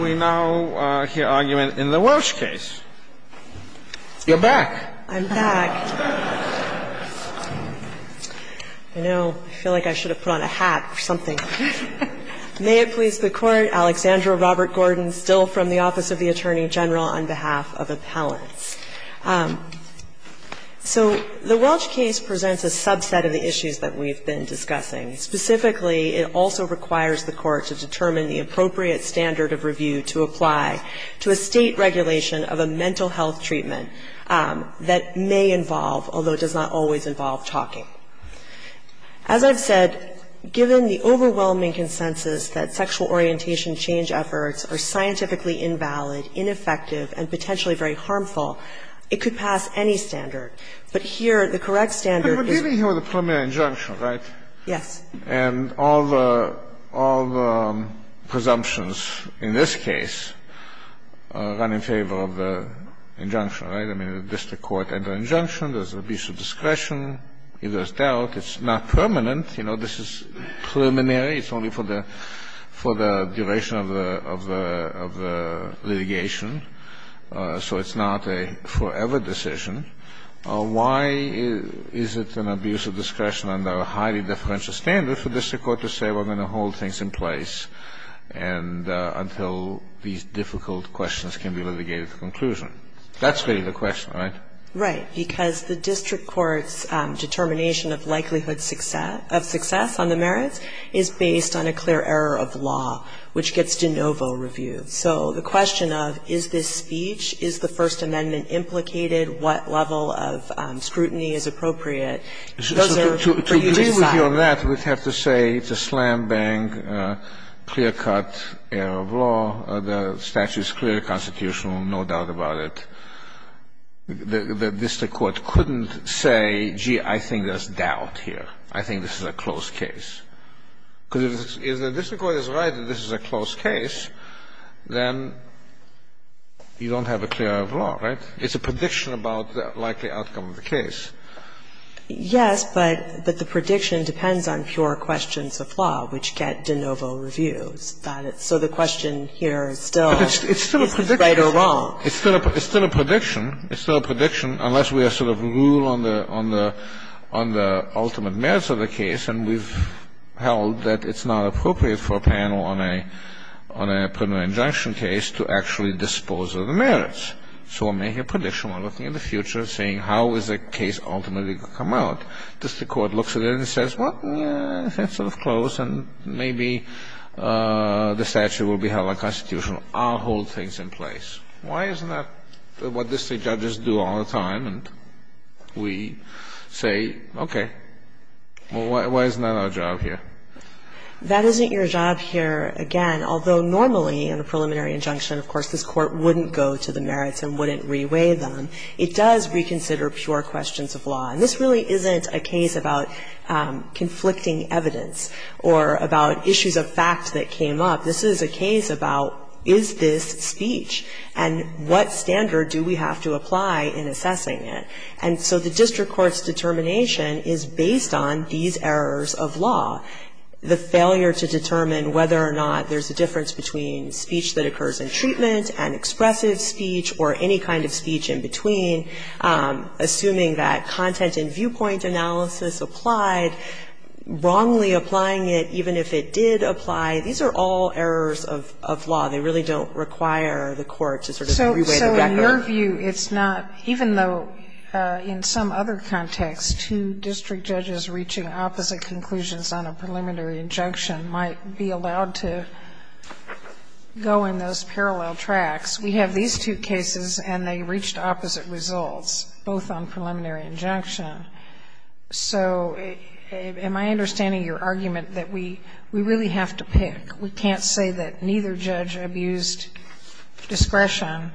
We now hear argument in the Welch case. You're back. I'm back. I know, I feel like I should have put on a hat or something. May it please the Court, Alexandra Robert-Gordon, still from the Office of the Attorney General, on behalf of Appellants. So the Welch case presents a subset of the issues that we've been discussing. Specifically, it also requires the Court to determine the appropriate standard of review to apply to a State regulation of a mental health treatment that may involve, although it does not always involve, talking. As I've said, given the overwhelming consensus that sexual orientation change efforts are scientifically invalid, ineffective, and potentially very harmful, it could pass any standard. But here, the correct standard is But we're dealing here with a premier injunction, right? Yes. And all the presumptions in this case run in favor of the injunction, right? I mean, the district court entered an injunction. There's an abuse of discretion. If there's doubt, it's not permanent. You know, this is preliminary. It's only for the duration of the litigation. So it's not a forever decision. Why is it an abuse of discretion under a highly differential standard for the district court to say we're going to hold things in place until these difficult questions can be litigated to conclusion? That's really the question, right? Right. Because the district court's determination of likelihood of success on the merits is based on a clear error of law, which gets de novo reviewed. So the question of is this speech, is the First Amendment implicated? What level of scrutiny is appropriate? Those are for you to decide. To agree with you on that, we'd have to say it's a slam-bang, clear-cut error of law. The statute is clearly constitutional, no doubt about it. The district court couldn't say, gee, I think there's doubt here. I think this is a closed case. Because if the district court is right that this is a closed case, then you don't have a clear error of law, right? It's a prediction about the likely outcome of the case. Yes, but the prediction depends on pure questions of law, which get de novo reviewed. So the question here is still right or wrong. It's still a prediction. It's still a prediction, unless we have sort of rule on the ultimate merits of the case, and we've held that it's not appropriate for a panel on a preliminary injunction case to actually dispose of the merits. So we're making a prediction. We're looking at the future, seeing how is the case ultimately going to come out. If the district court looks at it and says, well, yeah, it's sort of closed, and maybe the statute will be held unconstitutional, I'll hold things in place. Why isn't that what district judges do all the time? And we say, okay, why isn't that our job here? That isn't your job here, again, although normally in a preliminary injunction, of course, this court wouldn't go to the merits and wouldn't reweigh them. It does reconsider pure questions of law. And this really isn't a case about conflicting evidence or about issues of fact that came up. This is a case about, is this speech? And what standard do we have to apply in assessing it? And so the district court's determination is based on these errors of law. The failure to determine whether or not there's a difference between speech that occurs in treatment and expressive speech or any kind of speech in between, assuming that content and viewpoint analysis applied, wrongly applying it even if it did apply. These are all errors of law. They really don't require the court to sort of reweigh the record. So in your view, it's not, even though in some other context, two district judges reaching opposite conclusions on a preliminary injunction might be allowed to go in those parallel tracks. We have these two cases, and they reached opposite results, both on preliminary injunction. So am I understanding your argument that we really have to pick? We can't say that neither judge abused discretion.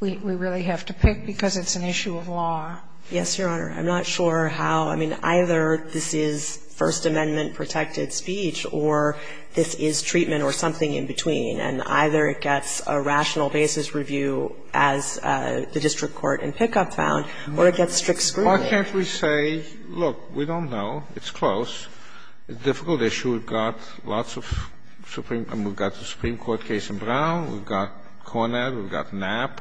We really have to pick because it's an issue of law. Yes, Your Honor. I'm not sure how, I mean, either this is First Amendment-protected speech or this is treatment or something in between, and either it gets a rational basis review, as the district court in Pickup found, or it gets strict scrutiny. Why can't we say, look, we don't know, it's close, it's a difficult issue, we've got lots of Supreme – I mean, we've got the Supreme Court case in Brown, we've got Cornett, we've got Knapp,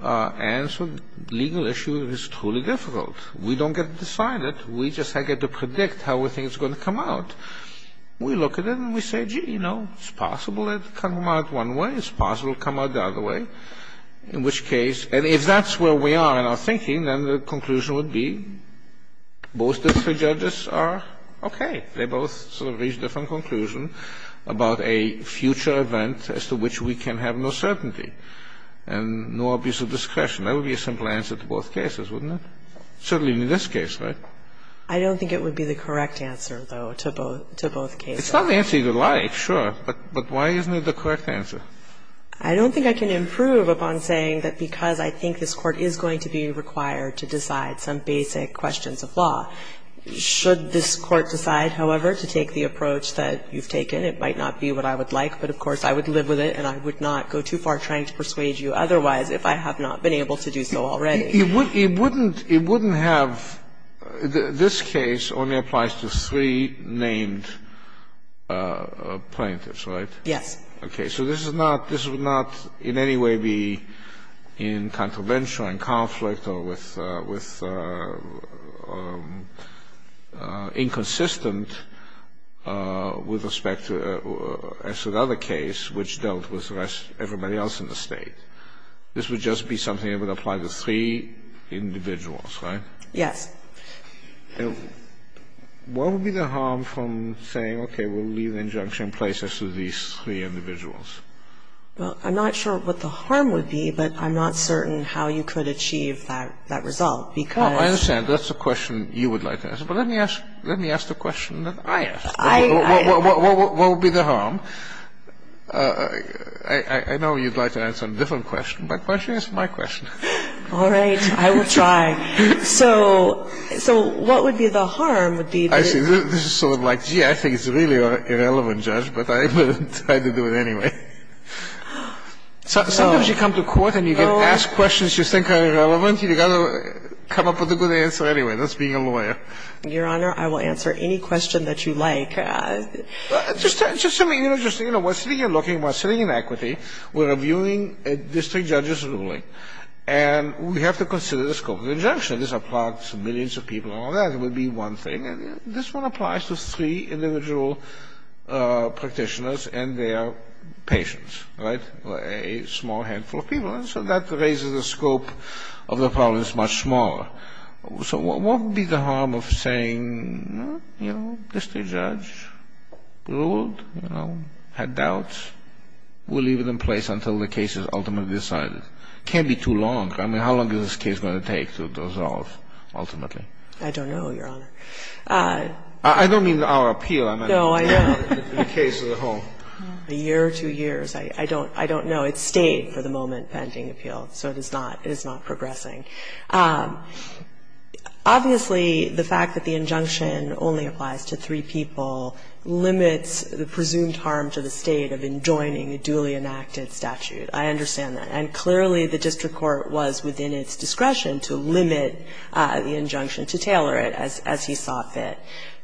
and so the legal issue is truly difficult. We don't get to decide it. We just get to predict how we think it's going to come out. We look at it, and we say, gee, you know, it's possible it'll come out one way, it's possible it'll come out the other way, in which case – and if that's where we are in our thinking, then the conclusion would be both district judges are okay. They both sort of reached a different conclusion about a future event as to which we can have no certainty and no obvious discretion. That would be a simple answer to both cases, wouldn't it? Certainly in this case, right? I don't think it would be the correct answer, though, to both cases. It's not the answer you would like, sure, but why isn't it the correct answer? I don't think I can improve upon saying that because I think this Court is going to be required to decide some basic questions of law, should this Court decide, however, to take the approach that you've taken, it might not be what I would like, but of course I would live with it, and I would not go too far trying to persuade you otherwise if I have not been able to do so already. It wouldn't have – this case only applies to three named plaintiffs, right? Yes. Okay, so this is not – this would not in any way be in contravention or in conflict or with – inconsistent with respect to – as with other case which dealt with everybody else in the State. This would just be something that would apply to three individuals, right? Yes. What would be the harm from saying, okay, we'll leave the injunction in place as to these three individuals? Well, I'm not sure what the harm would be, but I'm not certain how you could achieve that result because – Oh, I understand. That's a question you would like to answer, but let me ask the question that I asked. I – What would be the harm? I know you'd like to answer a different question, but why don't you ask my question? All right, I will try. So what would be the harm would be – I see. This is sort of like, gee, I think it's really irrelevant, Judge, but I will try to do it anyway. Sometimes you come to court and you get asked questions you think are irrelevant. You've got to come up with a good answer anyway. That's being a lawyer. Your Honor, I will answer any question that you like. Just to make – you know, just – you know, we're sitting here looking, we're sitting in equity, we're reviewing a district judge's ruling, and we have to consider the scope of the injunction. This applies to millions of people and all that. It would be one thing. And this one applies to three individual practitioners and their patients, right, a small handful of people. And so that raises the scope of the problems much smaller. So what would be the harm of saying, you know, district judge ruled, you know, had doubts. We'll leave it in place until the case is ultimately decided. Can't be too long. I mean, how long is this case going to take to resolve ultimately? I don't know, Your Honor. I don't mean our appeal. No, I know. The case as a whole. A year or two years. I don't know. It's stayed for the moment pending appeal, so it is not progressing. Obviously, the fact that the injunction only applies to three people limits the presumed harm to the State of enjoining a duly enacted statute. I understand that. And clearly, the district court was within its discretion to limit the injunction to tailor it as he saw fit.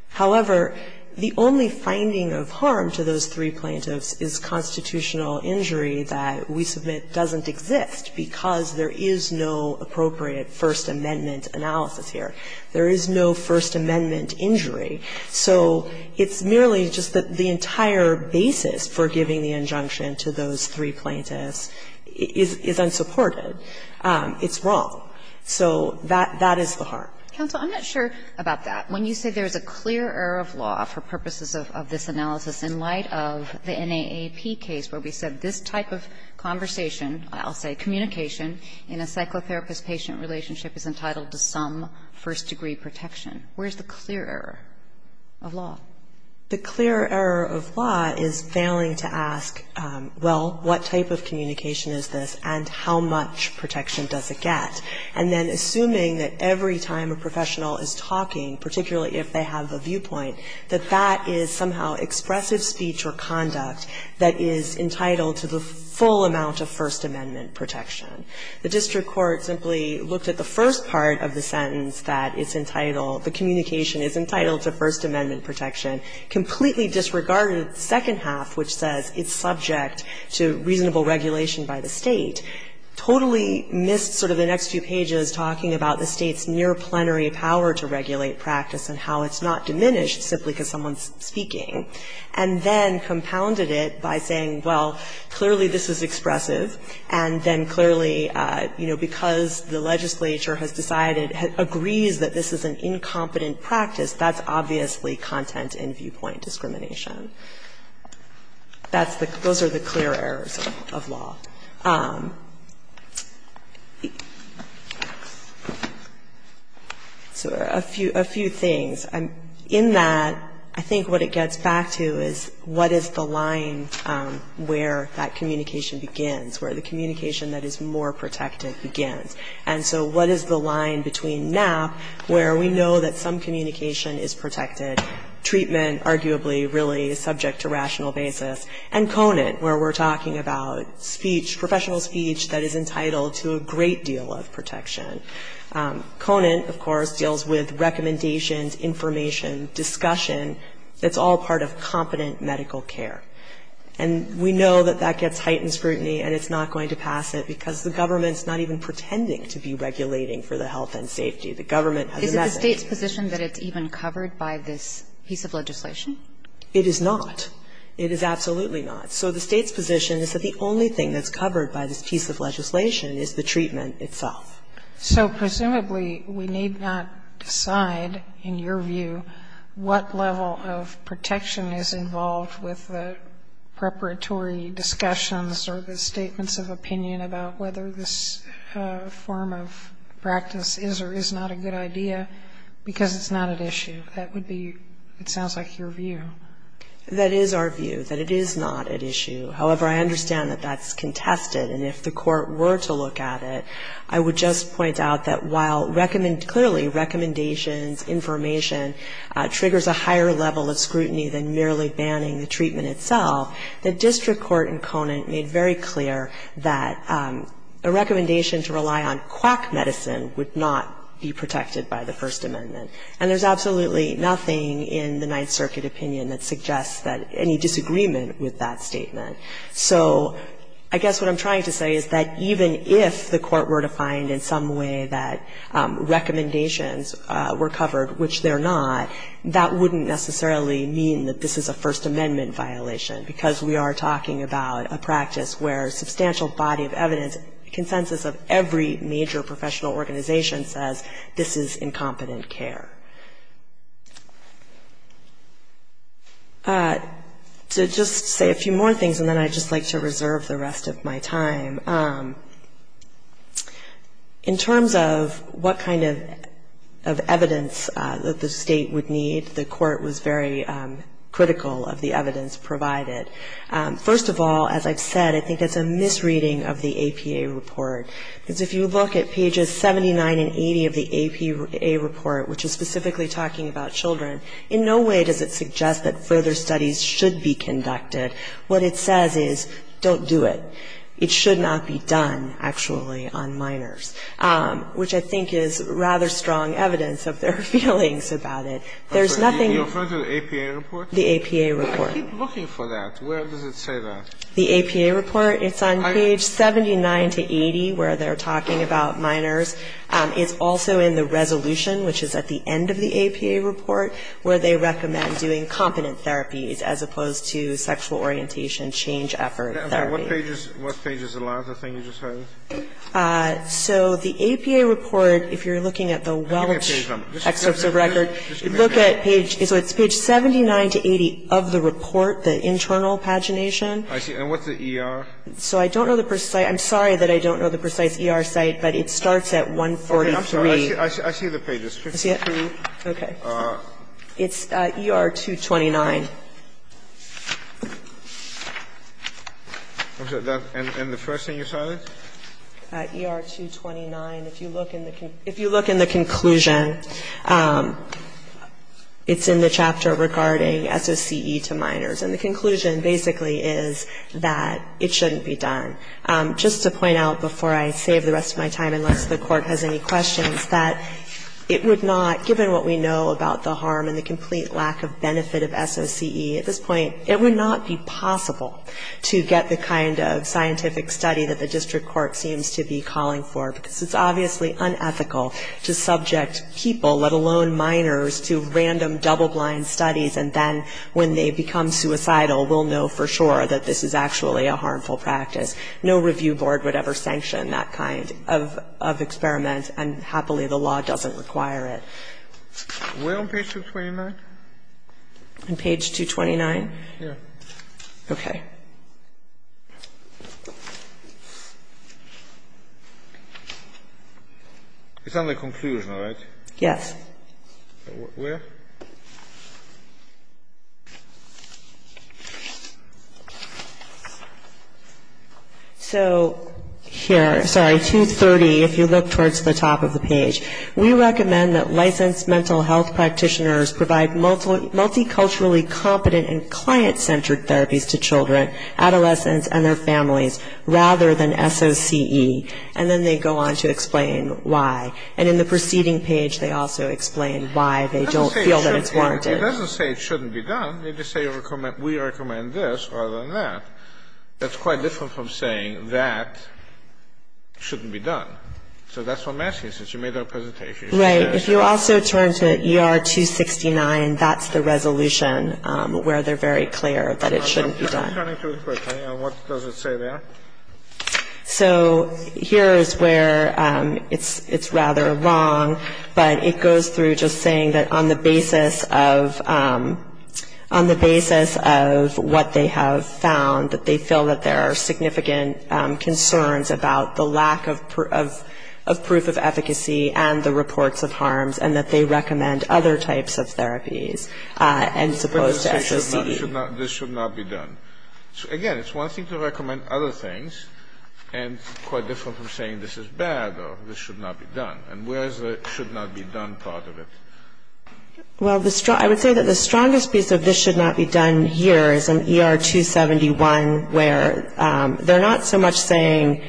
However, the only finding of harm to those three plaintiffs is constitutional injury that we submit doesn't exist because there is no appropriate First Amendment analysis here. There is no First Amendment injury. So it's merely just that the entire basis for giving the injunction to those three plaintiffs is unsupported. It's wrong. So that is the harm. Kagan. Kagan. I'm not sure about that. When you say there is a clear error of law for purposes of this analysis in light of the NAAP case where we said this type of conversation, I'll say communication, in a psychotherapist-patient relationship is entitled to some first degree protection, where is the clear error of law? The clear error of law is failing to ask, well, what type of communication is this and how much protection does it get, and then assuming that every time a professional is talking, particularly if they have a viewpoint, that that is somehow expressive speech or conduct that is entitled to the full amount of First Amendment protection. The district court simply looked at the first part of the sentence that it's entitled to First Amendment protection, completely disregarded the second half, which says it's subject to reasonable regulation by the state, totally missed sort of the next few pages talking about the state's near-plenary power to regulate practice and how it's not diminished simply because someone's speaking, and then compounded it by saying, well, clearly this is expressive, and then clearly, you know, because the legislature has decided agrees that this is an incompetent practice, that's obviously content and viewpoint discrimination. That's the, those are the clear errors of law. So a few, a few things. In that, I think what it gets back to is what is the line where that communication begins, where the communication that is more protective begins, and so what is the line between Knapp, where we know that some communication is protected, treatment arguably really subject to rational basis, and Conant, where we're talking about speech, professional speech that is entitled to a great deal of protection. Conant, of course, deals with recommendations, information, discussion that's all part of competent medical care. And we know that that gets heightened scrutiny and it's not going to pass it because the government's not even pretending to be regulating for the health and safety. The government has a message. Kagan. Is it the State's position that it's even covered by this piece of legislation? It is not. It is absolutely not. So the State's position is that the only thing that's covered by this piece of legislation is the treatment itself. So presumably, we need not decide, in your view, what level of protection is involved with the preparatory discussions or the statements of opinion about whether this form of practice is or is not a good idea, because it's not at issue. That would be, it sounds like, your view. That is our view, that it is not at issue. However, I understand that that's contested, and if the Court were to look at it, I would just point out that while clearly recommendations, information, triggers a higher level of scrutiny than merely banning the treatment itself, the district court in Conant made very clear that a recommendation to rely on quack medicine would not be protected by the First Amendment, and there's absolutely nothing in the Ninth Circuit opinion that suggests that any disagreement with that statement. So I guess what I'm trying to say is that even if the Court were to find in some way that recommendations were covered, which they're not, that wouldn't necessarily mean that this is a First Amendment violation, because we are talking about a practice where a substantial body of evidence, consensus of every major professional organization says this is incompetent care. To just say a few more things, and then I'd just like to reserve the rest of my time. In terms of what kind of evidence that the State would need, the Court was very critical of the evidence provided. First of all, as I've said, I think it's a misreading of the APA report, because if you look at pages 79 and 80 of the APA report, which is specifically talking about children, in no way does it suggest that further studies should be conducted. What it says is don't do it. It should not be done, actually, on minors, which I think is rather strong evidence of their feelings about it. There's nothing you can do. Sotomayor, you refer to the APA report? The APA report. I keep looking for that. Where does it say that? The APA report, it's on page 79 to 80 where they're talking about minors. It's also in the resolution, which is at the end of the APA report, where they recommend doing competent therapies as opposed to sexual orientation change effort therapy. What page is the last thing you just had? So the APA report, if you're looking at the Welch excerpts of record, look at page 79 to 80 of the report, the internal pagination. I see. And what's the ER? So I don't know the precise. I'm sorry that I don't know the precise ER site, but it starts at 143. Okay. I'm sorry. I see the page. It's 53. Okay. It's ER 229. And the first thing you saw there? ER 229. If you look in the conclusion, it's in the chapter regarding SOCE to minors. And the conclusion basically is that it shouldn't be done. Just to point out before I save the rest of my time, unless the Court has any questions, that it would not, given what we know about the harm and the complete lack of benefit of SOCE at this point, it would not be possible to get the kind of scientific study that the District Court seems to be calling for, because it's obviously unethical to subject people, let alone minors, to random, double-blind studies, and then when they become suicidal, we'll know for sure that this is actually a harmful practice. No review board would ever sanction that kind of experiment, and Where on page 229? On page 229? Yeah. Okay. It's on the conclusion, right? Yes. Where? So here, sorry, 230, if you look towards the top of the page, we recommend that licensed mental health practitioners provide multiculturally competent and client-centered therapies to children, adolescents, and their families, rather than SOCE. And then they go on to explain why. And in the preceding page, they say, we recommend this, rather than that. That's quite different from saying that shouldn't be done. So that's what I'm asking, since you made that presentation. Right. If you also turn to ER 269, that's the resolution where they're very clear that it shouldn't be done. I'm turning to a question. What does it say there? So here is where it's rather wrong, but it goes through just saying that on the basis of what they have found, that they feel that there are significant concerns about the lack of proof of efficacy and the reports of harms, and that they recommend other types of therapies, as opposed to SOCE. This should not be done. Again, it's one thing to recommend other things, and quite different from saying this is bad or this should not be done. And where is the should not be done part of it? Well, I would say that the strongest piece of this should not be done here is in ER 271, where they're not so much saying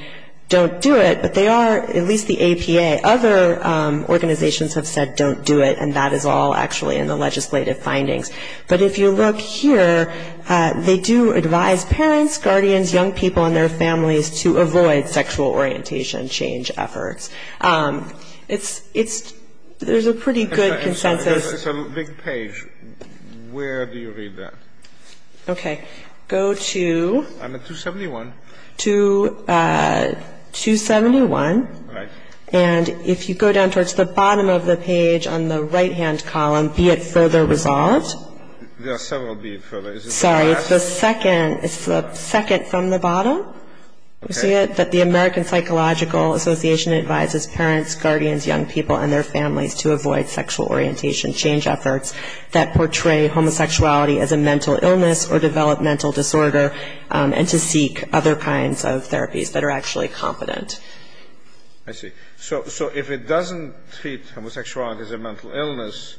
don't do it, but they are, at least the APA, other organizations have said don't do it, and that is all actually in the legislative findings. But if you look here, they do advise parents, guardians, young people, and their families to avoid sexual orientation change efforts. There's a pretty good consensus. It's a big page. Where do you read that? Okay. Go to. I'm at 271. To 271. All right. And if you go down towards the bottom of the page on the right-hand column, be it further resolved. There are several be it further. Sorry, it's the second from the bottom. Okay. But the American Psychological Association advises parents, guardians, young people, and their families to avoid sexual orientation change efforts that portray homosexuality as a mental illness or developmental disorder, and to seek other kinds of therapies that are actually competent. I see. So if it doesn't treat homosexuality as a mental illness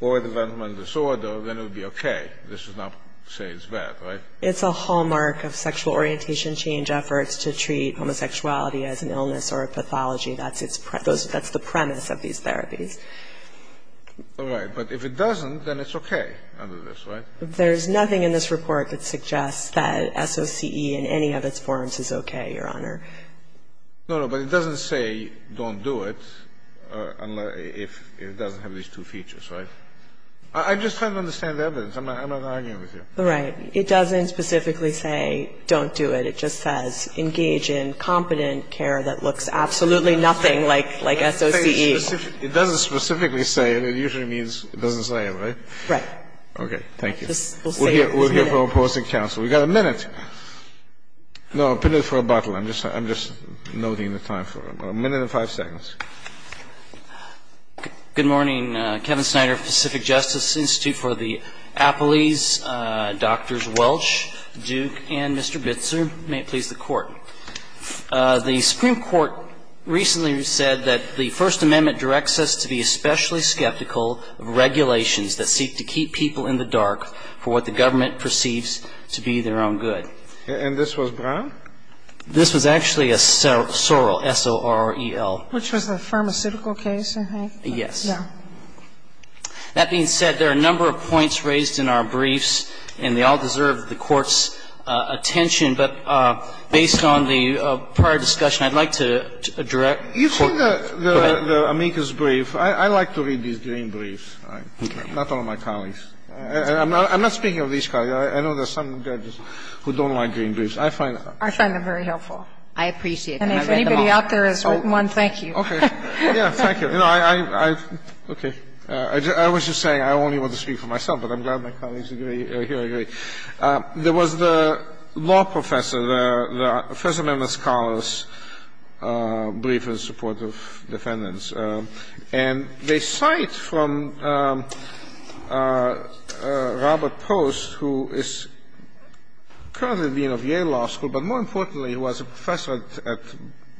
or developmental disorder, then it would be okay. This does not say it's bad, right? It's a hallmark of sexual orientation change efforts to treat homosexuality as an illness or a pathology. That's the premise of these therapies. All right. But if it doesn't, then it's okay under this, right? There's nothing in this report that suggests that SOCE in any of its forms is okay, Your Honor. No, no. But it doesn't say don't do it if it doesn't have these two features, right? I'm just trying to understand the evidence. I'm not arguing with you. Right. It doesn't specifically say don't do it. It just says engage in competent care that looks absolutely nothing like SOCE. It doesn't specifically say it. It usually means it doesn't say it, right? Right. Okay. Thank you. We'll see. We're here for opposing counsel. We've got a minute. No, a minute for rebuttal. I'm just noting the time for rebuttal. A minute and five seconds. Good morning. Good morning. Kevin Snyder, Pacific Justice Institute for the Appleys, Drs. Welch, Duke, and Mr. Bitzer. May it please the Court. The Supreme Court recently said that the First Amendment directs us to be especially skeptical of regulations that seek to keep people in the dark for what the government perceives to be their own good. And this was Brown? This was actually Sorrell, S-O-R-R-E-L. Which was a pharmaceutical case, I think. Yes. That being said, there are a number of points raised in our briefs, and they all deserve the Court's attention. But based on the prior discussion, I'd like to direct the Court. You've seen the amicus brief. I like to read these green briefs. Okay. Not all of my colleagues. I'm not speaking of these colleagues. I know there are some judges who don't like green briefs. I find them very helpful. I appreciate that. And if anybody out there has written one, thank you. Okay. Yes, thank you. Okay. I was just saying I only want to speak for myself, but I'm glad my colleagues here agree. There was the law professor, the First Amendment scholars' brief in support of defendants. And they cite from Robert Post, who is currently dean of Yale Law School, but more importantly he was a professor at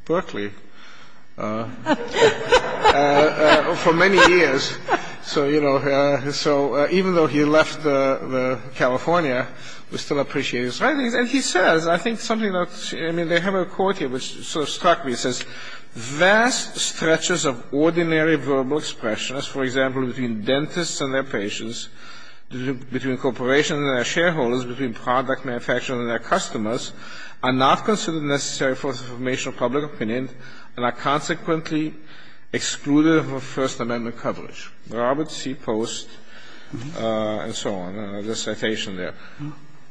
Berkeley for many years. So, you know, even though he left California, we still appreciate his writings. And he says, I think something that's, I mean, they have a quote here which sort of struck me. It says, Vast stretches of ordinary verbal expressions, for example, between dentists and their patients, between corporations and their shareholders, between product manufacturers and their customers, are not considered necessary for the formation of public opinion and are consequently excluded from First Amendment coverage. Robert C. Post and so on. There's a citation there.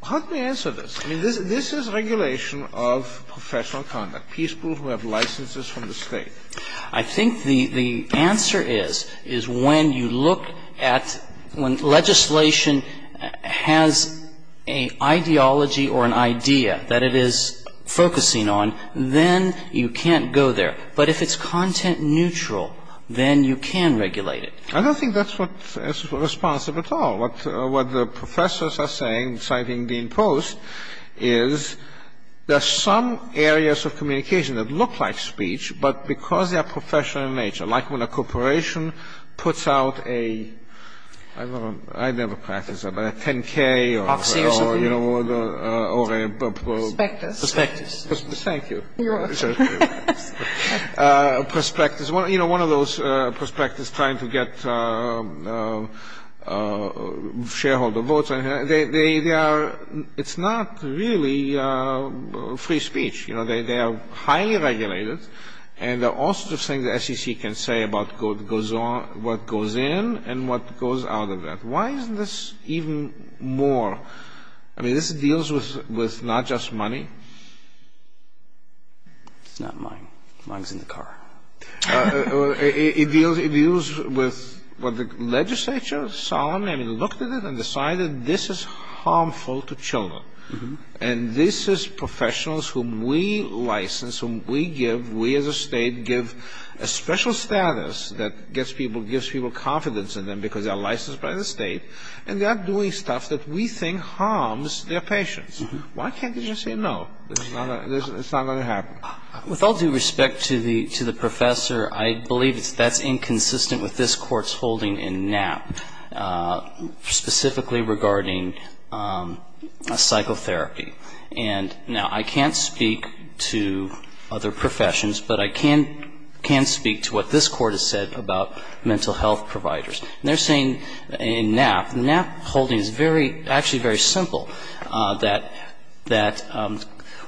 Help me answer this. I mean, this is regulation of professional conduct. I think the answer is when you look at when legislation has an ideology or an idea that it is focusing on, then you can't go there. But if it's content neutral, then you can regulate it. I don't think that's responsive at all. What the professors are saying, citing Dean Post, is there are some areas of communication that look like speech, but because they are professional in nature, like when a corporation puts out a, I don't know, I've never practiced that, but a 10K or, you know, or a... Prospectus. Prospectus. Thank you. You're welcome. Prospectus. You know, one of those prospectus trying to get shareholder votes. They are, it's not really free speech. You know, they are highly regulated and there are all sorts of things the SEC can say about what goes in and what goes out of that. Why isn't this even more? I mean, this deals with not just money. It's not mine. Mine's in the car. It deals with what the legislature solemnly, I mean, looked at it and decided this is harmful to children. And this is professionals whom we license, whom we give, we as a state give a special status that gets people, gives people confidence in them because they're licensed by the state and they're doing stuff that we think harms their patients. Why can't they just say no? It's not going to happen. With all due respect to the professor, I believe that's inconsistent with this court's holding in Knapp, specifically regarding psychotherapy. And now, I can't speak to other professions, but I can speak to what this court has said about mental health providers. And they're saying in Knapp, Knapp holding is very, actually very simple, that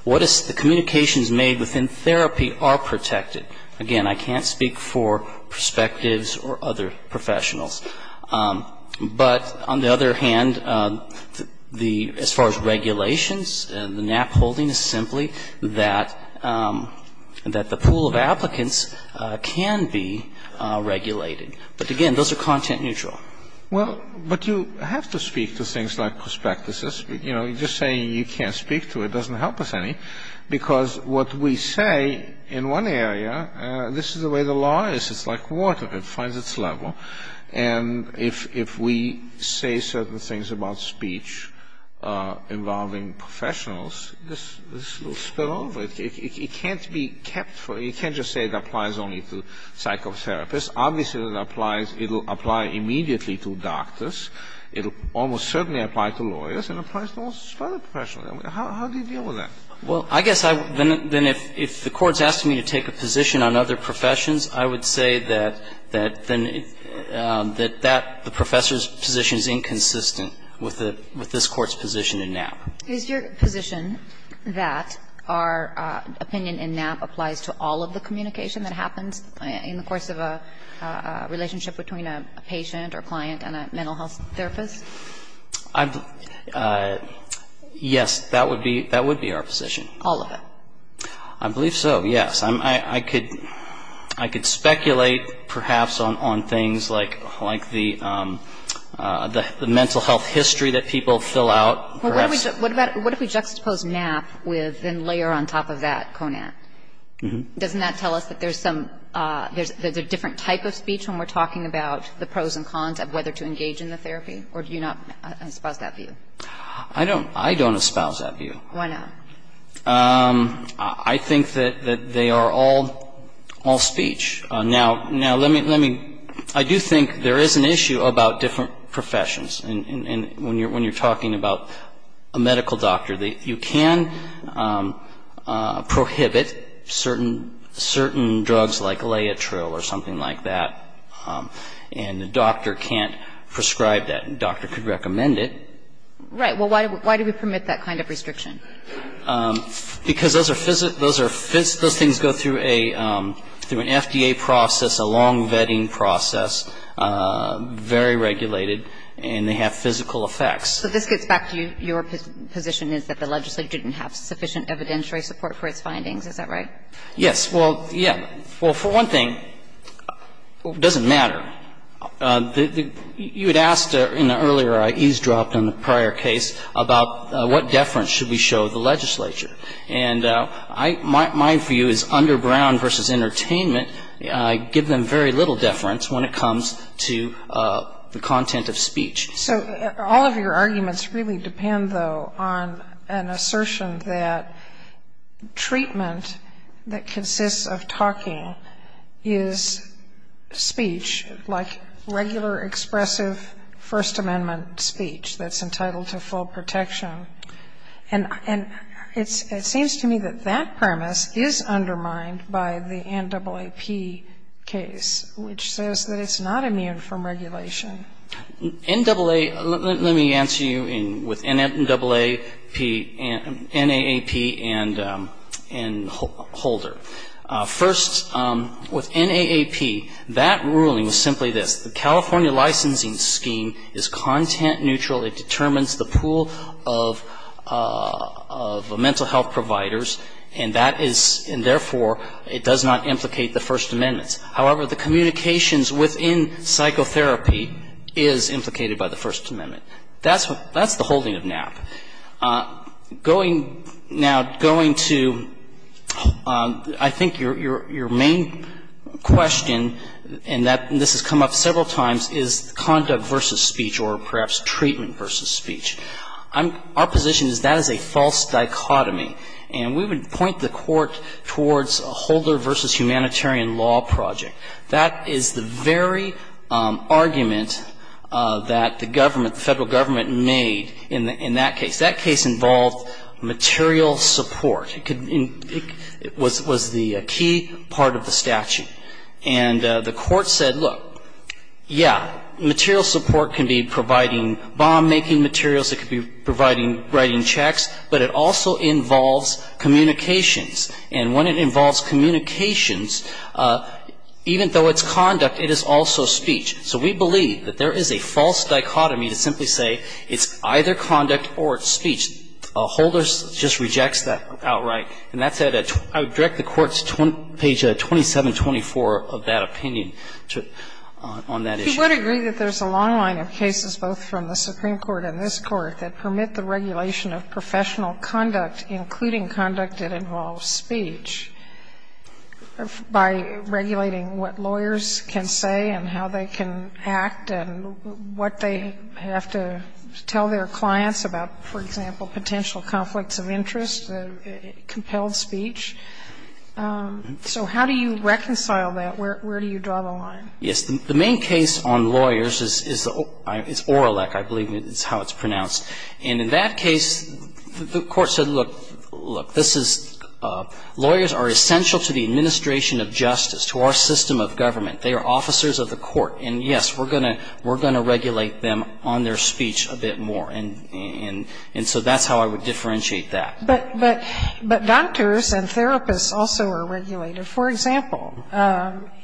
what is the communications made within therapy are protected. Again, I can't speak for prospectives or other professionals. But on the other hand, the as far as regulations, the Knapp holding is simply that the pool of applicants can be regulated. But again, those are content neutral. Well, but you have to speak to things like prospectuses. You know, just saying you can't speak to it doesn't help us any because what we say in one area, this is the way the law is. It's like water. It finds its level. And if we say certain things about speech involving professionals, this will spill over. It can't be kept for, you can't just say it applies only to psychotherapists. Obviously, it applies, it will apply immediately to doctors. It will almost certainly apply to lawyers. It applies to all other professionals. How do you deal with that? Well, I guess, then if the court's asking me to take a position on other professions, I would say that the professor's position is inconsistent with this court's position in Knapp. Is your position that our opinion in Knapp applies to all of the communication that happens in the course of a relationship between a patient or client and a mental health therapist? Yes, that would be our position. All of it? I believe so, yes. I could speculate, perhaps, on things like the mental health history that people fill out. What if we juxtapose Knapp with and layer on top of that Conant? Doesn't that tell us that there's a different type of speech when we're talking about the pros and cons of whether to engage in the therapy? Or do you not espouse that view? I don't espouse that view. Why not? I think that they are all speech. Now, let me – I do think there is an issue about different professions when you're talking about a medical doctor. You can prohibit certain drugs like Laetrile or something like that, and the doctor can't prescribe that. The doctor could recommend it. Right. Well, why do we permit that kind of restriction? Because those are – those things go through an FDA process, a long vetting process, very regulated, and they have physical effects. So this gets back to your position is that the legislature didn't have sufficient evidentiary support for its findings. Is that right? Yes. Well, yes. Well, for one thing, it doesn't matter. You had asked in the earlier – I eavesdropped on the prior case about what deference should we show the legislature. And my view is underground versus entertainment, I give them very little deference when it comes to the content of speech. So all of your arguments really depend, though, on an assertion that treatment that consists of talking is speech, like regular expressive First Amendment speech that's entitled to full protection. And it seems to me that that premise is undermined by the NAAP case, which says that it's not immune from regulation. NAA – let me answer you with NAAP and Holder. First, with NAAP, that ruling was simply this. The California licensing scheme is content neutral. It determines the pool of mental health providers, and that is – and therefore, it does not implicate the First Amendment. However, the communications within psychotherapy is implicated by the First Amendment. That's the holding of NAAP. Going – now, going to – I think your main question, and this has come up several times, is conduct versus speech or perhaps treatment versus speech. Our position is that is a false dichotomy. And we would point the Court towards a Holder versus humanitarian law project. That is the very argument that the government, the Federal Government, made in that case. That case involved material support. It could – it was the key part of the statute. And the Court said, look, yeah, material support can be providing bomb-making materials. It could be providing – writing checks. But it also involves communications. And when it involves communications, even though it's conduct, it is also speech. So we believe that there is a false dichotomy to simply say it's either conduct or it's speech. A Holder just rejects that outright. And that's at – I would direct the Court to page 2724 of that opinion on that issue. Sotomayor, you would agree that there's a long line of cases, both from the Supreme Court and this Court, that permit the regulation of professional conduct, including conduct that involves speech, by regulating what lawyers can say and how they can act and what they have to tell their clients about, for example, potential conflicts of interest, compelled speech. So how do you reconcile that? Where do you draw the line? Yes. The main case on lawyers is Oralec, I believe is how it's pronounced. And in that case, the Court said, look, look, this is – lawyers are essential to the administration of justice, to our system of government. They are officers of the Court. And, yes, we're going to regulate them on their speech a bit more. And so that's how I would differentiate that. But doctors and therapists also are regulated. For example,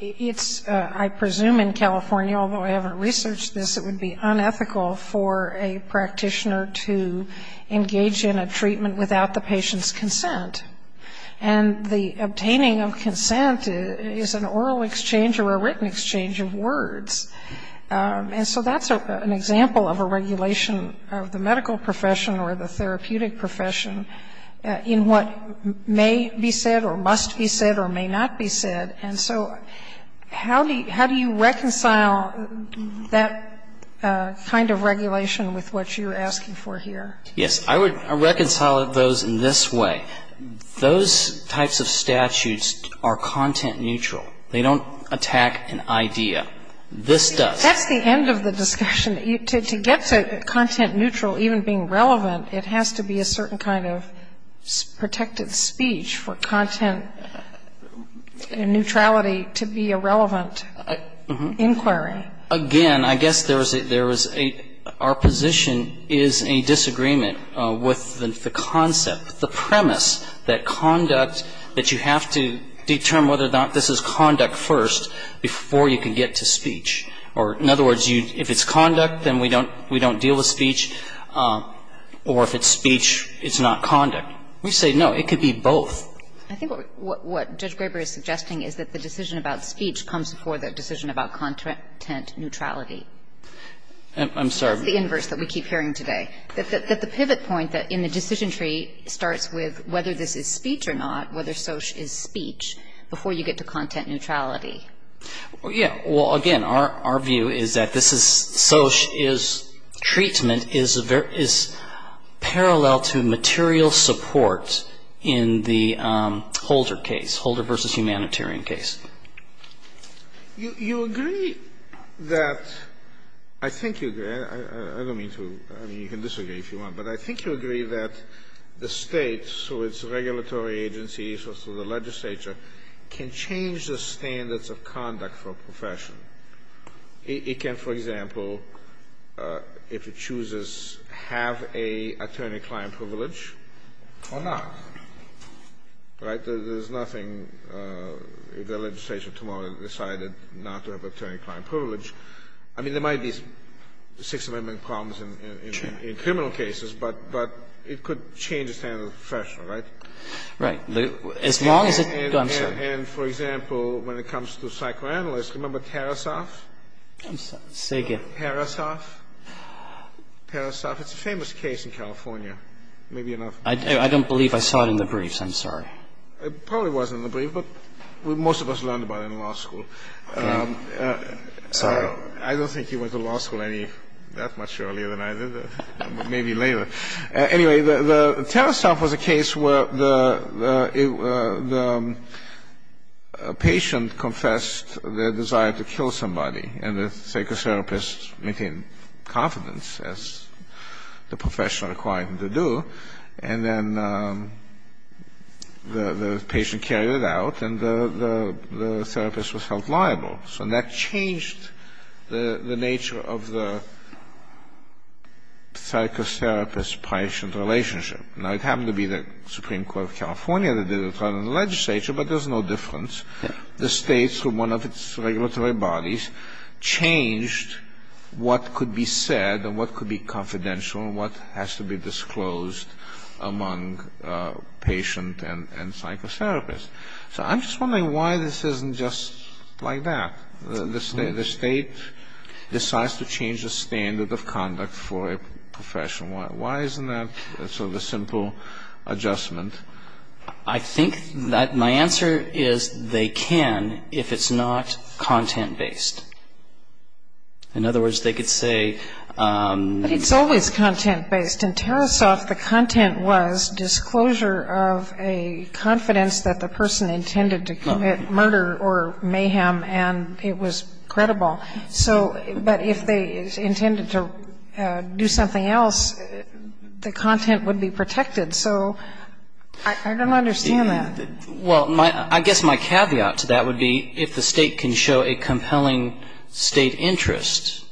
it's – I presume in California, although I haven't researched this, it would be unethical for a practitioner to engage in a treatment without the patient's consent. And the obtaining of consent is an oral exchange or a written exchange of words. And so that's an example of a regulation of the medical profession or the therapeutic profession in what may be said or must be said or may not be said. And so how do you reconcile that kind of regulation with what you're asking for here? Yes. I would reconcile those in this way. Those types of statutes are content neutral. They don't attack an idea. This does. That's the end of the discussion. To get to content neutral, even being relevant, it has to be a certain kind of protected speech for content neutrality to be a relevant inquiry. Again, I guess there is a – our position is a disagreement with the concept, the premise that conduct – that you have to determine whether or not this is conduct first before you can get to speech. Or in other words, if it's conduct, then we don't deal with speech. Or if it's speech, it's not conduct. We say, no, it could be both. I think what Judge Graber is suggesting is that the decision about speech comes before the decision about content neutrality. I'm sorry. It's the inverse that we keep hearing today. That the pivot point in the decision tree starts with whether this is speech or not, whether SOCH is speech, before you get to content neutrality. Yeah. Well, again, our view is that this is – SOCH is – treatment is parallel to material support in the Holder case, Holder v. Humanitarian case. You agree that – I think you agree. I don't mean to – I mean, you can disagree if you want. But I think you agree that the States, so its regulatory agencies, so the legislature, can change the standards of conduct for a profession. It can, for example, if it chooses, have an attorney-client privilege or not. Right? There's nothing – if the legislature tomorrow decided not to have attorney-client privilege. I mean, there might be Sixth Amendment problems in criminal cases, but it could change the standards of the profession, right? Right. As long as it – I'm sorry. And for example, when it comes to psychoanalysts, remember Tarasoff? I'm sorry. Say again. Tarasoff. Tarasoff. It's a famous case in California. Maybe you're not – I don't believe I saw it in the briefs. I'm sorry. It probably was in the brief, but most of us learned about it in law school. Okay. Sorry. I don't think you went to law school that much earlier than I did. Maybe later. Anyway, Tarasoff was a case where the patient confessed their desire to kill somebody and the psychotherapist maintained confidence as the professional required them to do, and then the patient carried it out and the therapist was held liable. So that changed the nature of the psychotherapist-patient relationship. Now, it happened to be the Supreme Court of California that did it rather than the legislature, but there's no difference. The state, through one of its regulatory bodies, changed what could be said and what could be confidential and what has to be disclosed among patient and psychotherapist. So I'm just wondering why this isn't just like that. The state decides to change the standard of conduct for a profession. Why isn't that? It's sort of a simple adjustment. I think that my answer is they can if it's not content-based. In other words, they could say... But it's always content-based. In Tarasoff, the content was disclosure of a confidence that the person intended to commit murder or mayhem and it was credible. So, but if they intended to do something else, the content would be protected. So, I don't understand that. Well, I guess my caveat to that would be if the state can show a compelling state interest,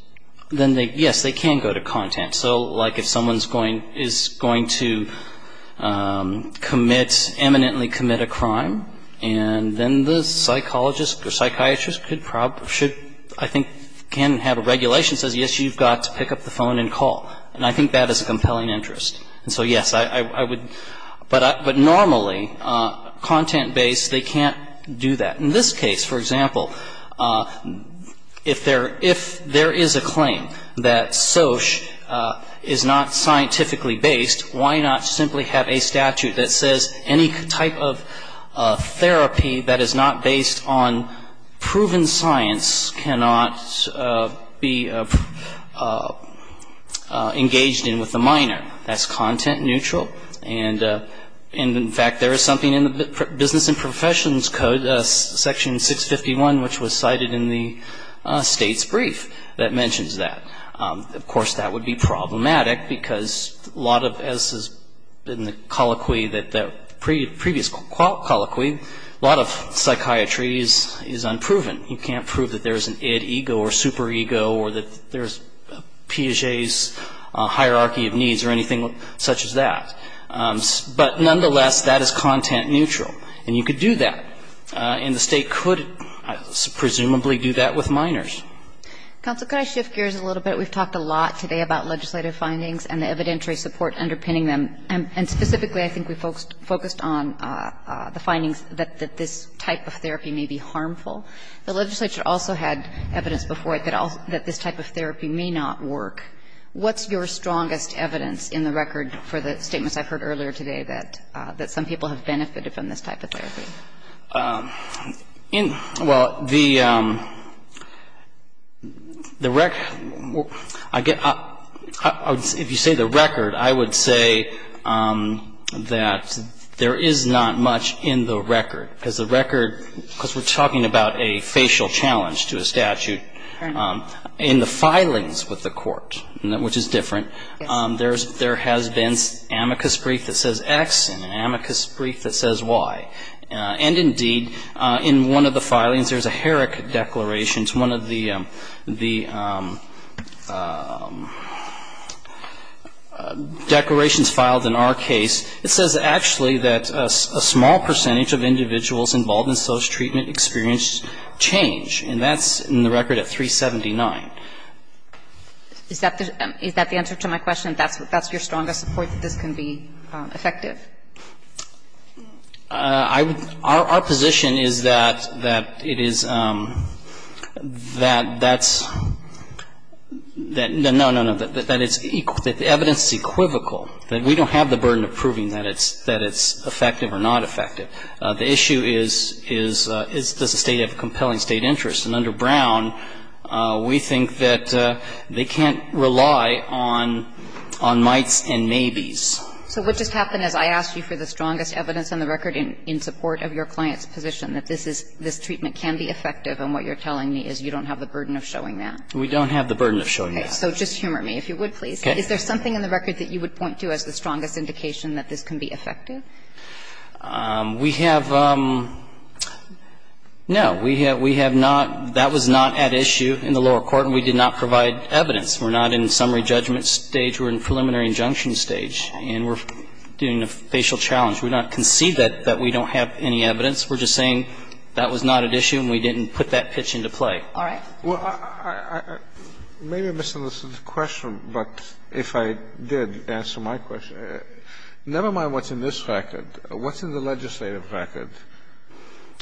then, yes, they can go to content. So, like if someone is going to commit, eminently commit a crime, and then the psychologist or psychiatrist should, I think, can have a regulation that says, yes, you've got to pick up the phone and call. And I think that is a compelling interest. And so, yes, I would... But normally, content-based, they can't do that. In this case, for example, if there is a claim that SOCH is not scientifically based, why not simply have a statute that says any type of therapy that is not based on proven science cannot be engaged in with the minor. That's content-neutral. And, in fact, there is something in the Business and Professions Code, Section 651, which was cited in the state's brief, that mentions that. Of course, that would be problematic because a lot of, as has been the colloquy, the previous colloquy, a lot of psychiatry is unproven. You can't prove that there is an id, ego, or superego or that there is Piaget's hierarchy of needs or anything such as that. But nonetheless, that is content-neutral. And you could do that. And the state could, presumably, do that with minors. Counsel, could I shift gears a little bit? We've talked a lot today about legislative findings and the evidentiary support underpinning them. And specifically, I think we focused on the findings that this type of therapy may be harmful. The legislature also had evidence before it that this type of therapy may not work. What's your strongest evidence in the record for the statements I've heard earlier today that some people have benefited from this type of therapy? Well, the record, if you say the record, I would say that there is not much in the record. Because we're talking about a facial challenge to a statute. In the filings with the court, which is different, there has been amicus brief that says X and an amicus brief that says Y. And indeed, in one of the filings, there's a Herrick Declaration. It's one of the declarations filed in our case. It says actually that a small percentage of individuals involved in social treatment experienced change. And that's in the record at 379. Is that the answer to my question, that's your strongest support that this can be effective? Our position is that it is, that that's, no, no, no, that the evidence is equivocal, that we don't have the burden of proving that it's effective or not effective. The issue is does the State have a compelling State interest? And under Brown, we think that they can't rely on mights and maybes. So what just happened is I asked you for the strongest evidence in the record in support of your client's position, that this treatment can be effective, and what you're telling me is you don't have the burden of showing that? We don't have the burden of showing that. So just humor me, if you would, please. Okay. Is there something in the record that you would point to as the strongest indication that this can be effective? We have, no. We have not, that was not at issue in the lower court and we did not provide evidence. We're not in summary judgment stage. We're in preliminary injunction stage and we're doing a facial challenge. We do not concede that we don't have any evidence. We're just saying that was not at issue and we didn't put that pitch into play. All right. Well, maybe I misunderstood the question, but if I did answer my question, never mind what's in this record, what's in the legislative record?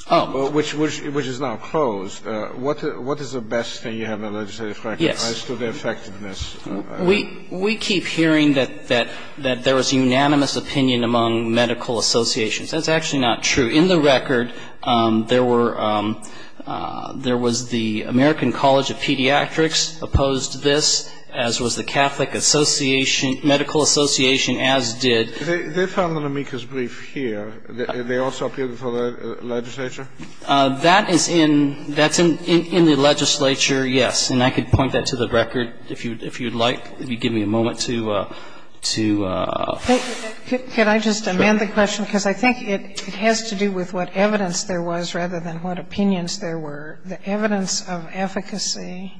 Oh. Which is now closed. What is the best thing you have in the legislative record? Yes. As to the effectiveness. We keep hearing that there was unanimous opinion among medical associations. That's actually not true. In the record there were, there was the American College of Pediatrics opposed this as was the Catholic Association, Medical Association as did. They found on Amica's brief here that they also appeared before the legislature? That is in, that's in the legislature, yes. And I could point that to the record if you'd like. If you'd give me a moment to. Can I just amend the question? Because I think it has to do with what evidence there was rather than what opinions there were. The evidence of efficacy.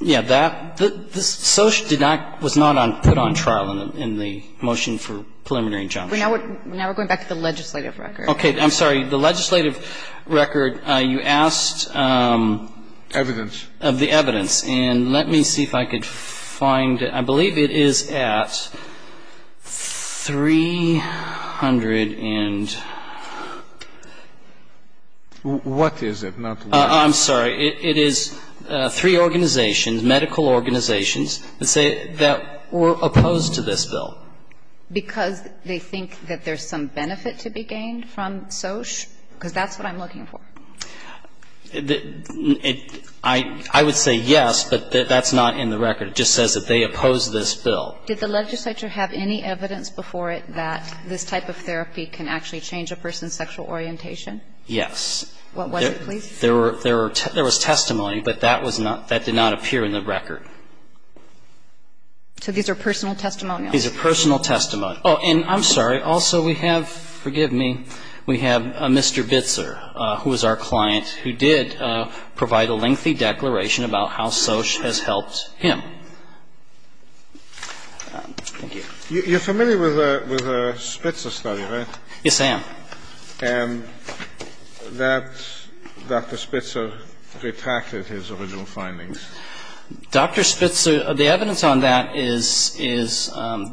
Yeah. That, this did not, was not put on trial in the motion for preliminary injunction. Now we're going back to the legislative record. Okay. I'm sorry. The legislative record, you asked. Evidence. Of the evidence. And let me see if I could find it. I believe it is at 300 and. What is it? I'm sorry. It is three organizations, medical organizations, that say that were opposed to this bill. Because they think that there's some benefit to be gained from SOHC? Because that's what I'm looking for. I would say yes, but that's not in the record. It just says that they oppose this bill. Did the legislature have any evidence before it that this type of therapy can actually change a person's sexual orientation? Yes. What was it, please? There were, there were, there was testimony, but that was not, that did not appear in the record. So these are personal testimonials? These are personal testimonials. Oh, and I'm sorry, also we have, forgive me, we have Mr. Bitzer, who was our client, who did provide a lengthy declaration about how SOHC has helped him. Thank you. You're familiar with the Spitzer study, right? Yes, I am. And that Dr. Spitzer retracted his original findings. Dr. Spitzer, the evidence on that is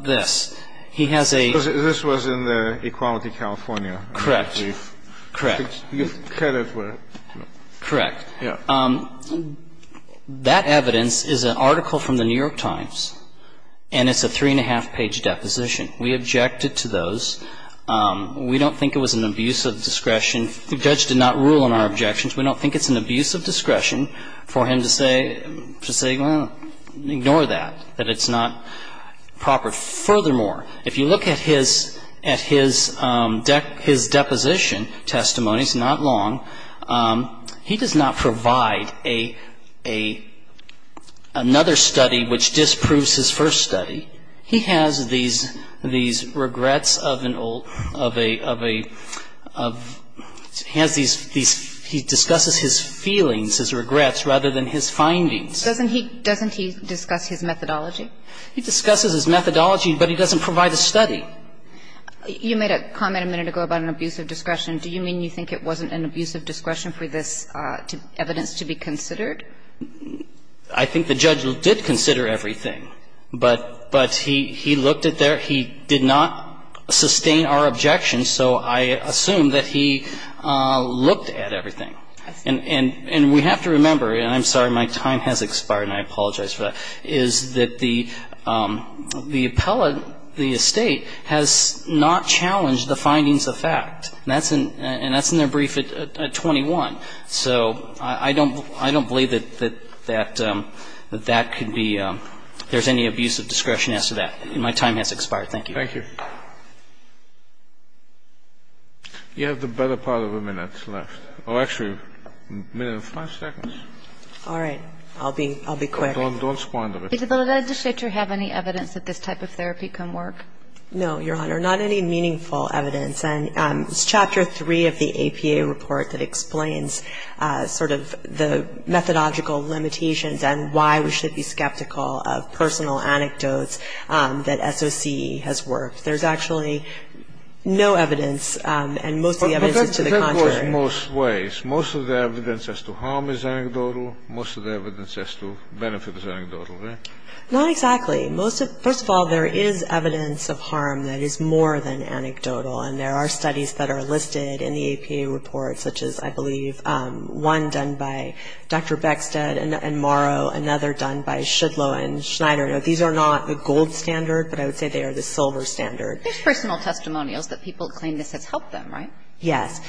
this. This was in the Equality California. Correct. Correct. That evidence is an article from the New York Times, and it's a three-and-a-half-page deposition. We objected to those. We don't think it was an abuse of discretion. The judge did not rule on our objections. We don't think it's an abuse of discretion for him to say, to say, well, ignore that, that it's not proper. Furthermore, if you look at his, at his deposition, not long, he does not provide a, a, another study which disproves his first study. He has these, these regrets of an old, of a, of a, of, has these, these, he discusses his feelings, his regrets, rather than his findings. Doesn't he, doesn't he discuss his methodology? He discusses his methodology, but he doesn't provide a study. You made a comment a minute ago about an abuse of discretion. Do you mean you think it wasn't an abuse of discretion for this evidence to be considered? I think the judge did consider everything. But, but he, he looked at their, he did not sustain our objections, so I assume that he looked at everything. And, and, and we have to remember, and I'm sorry, my time has expired and I apologize for that, is that the, the appellate, the estate has not challenged the findings of fact. And that's in, and that's in their brief at, at 21. So I, I don't, I don't believe that, that, that, that that could be, there's any abuse of discretion as to that. My time has expired. Thank you. Thank you. You have the better part of a minute left. Oh, actually, a minute and five seconds. All right. I'll be, I'll be quick. Does the legislature have any evidence that this type of therapy can work? No, Your Honor, not any meaningful evidence. And it's Chapter 3 of the APA report that explains sort of the methodological limitations and why we should be skeptical of personal anecdotes that SOC has worked. There's actually no evidence, and most of the evidence is to the contrary. That goes most ways. Most of the evidence as to harm is anecdotal. Most of the evidence as to benefit is anecdotal, right? Not exactly. Most of, first of all, there is evidence of harm that is more than anecdotal. And there are studies that are listed in the APA report such as, I believe, one done by Dr. Beckstead and Morrow, another done by Shudlow and Schneider. Now, these are not the gold standard, but I would say they are the silver standard. There's personal testimonials that people claim this has helped them, right? Yes.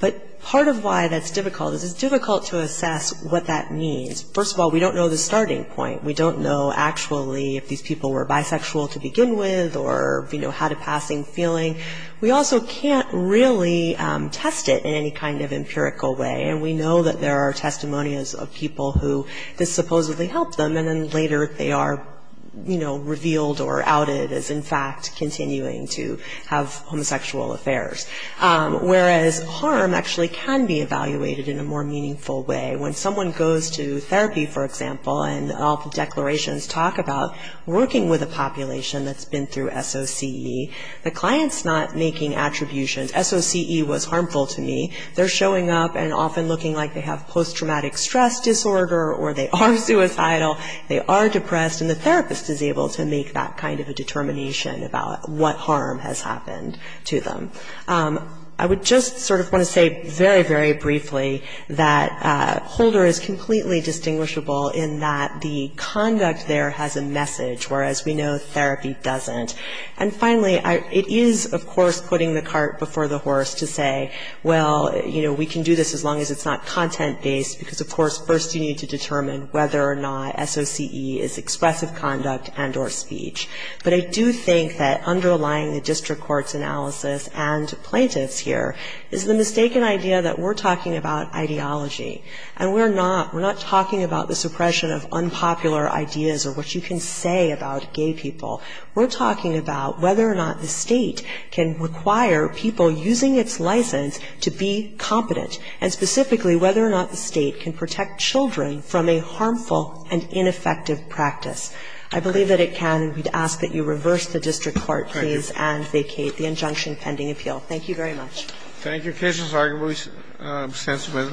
But part of why that's difficult is it's difficult to assess what that means. First of all, we don't know the starting point. We don't know actually if these people were bisexual to begin with or, you know, had a passing feeling. We also can't really test it in any kind of empirical way. And we know that there are testimonials of people who this supposedly helped them, and then later they are, you know, revealed or outed as, in fact, continuing to have homosexual affairs. Whereas harm actually can be evaluated in a more meaningful way. When someone goes to therapy, for example, and all the declarations talk about working with a population that's been through SOCE, the client's not making attributions. SOCE was harmful to me. They're showing up and often looking like they have post-traumatic stress disorder or they are suicidal, they are depressed, and the therapist is able to make that kind of a determination about what harm has happened to them. I would just sort of want to say very, very briefly that Holder is completely distinguishable in that the conduct there has a message, whereas we know therapy doesn't. And finally, it is, of course, putting the cart before the horse to say, well, you know, we can do this as long as it's not content-based because, of course, first you need to determine whether or not SOCE is expressive conduct and or speech. But I do think that underlying the district court's analysis and plaintiff's here is the mistaken idea that we're talking about ideology and we're not talking about the suppression of unpopular ideas or what you can say about gay people. We're talking about whether or not the state can require people using its license to be competent and specifically whether or not the state can protect children from a harmful and ineffective practice. I believe that it can. We'd ask that you reverse the district court, please, and vacate the injunction pending appeal. Thank you very much. Thank you. The case is arguably sentimental.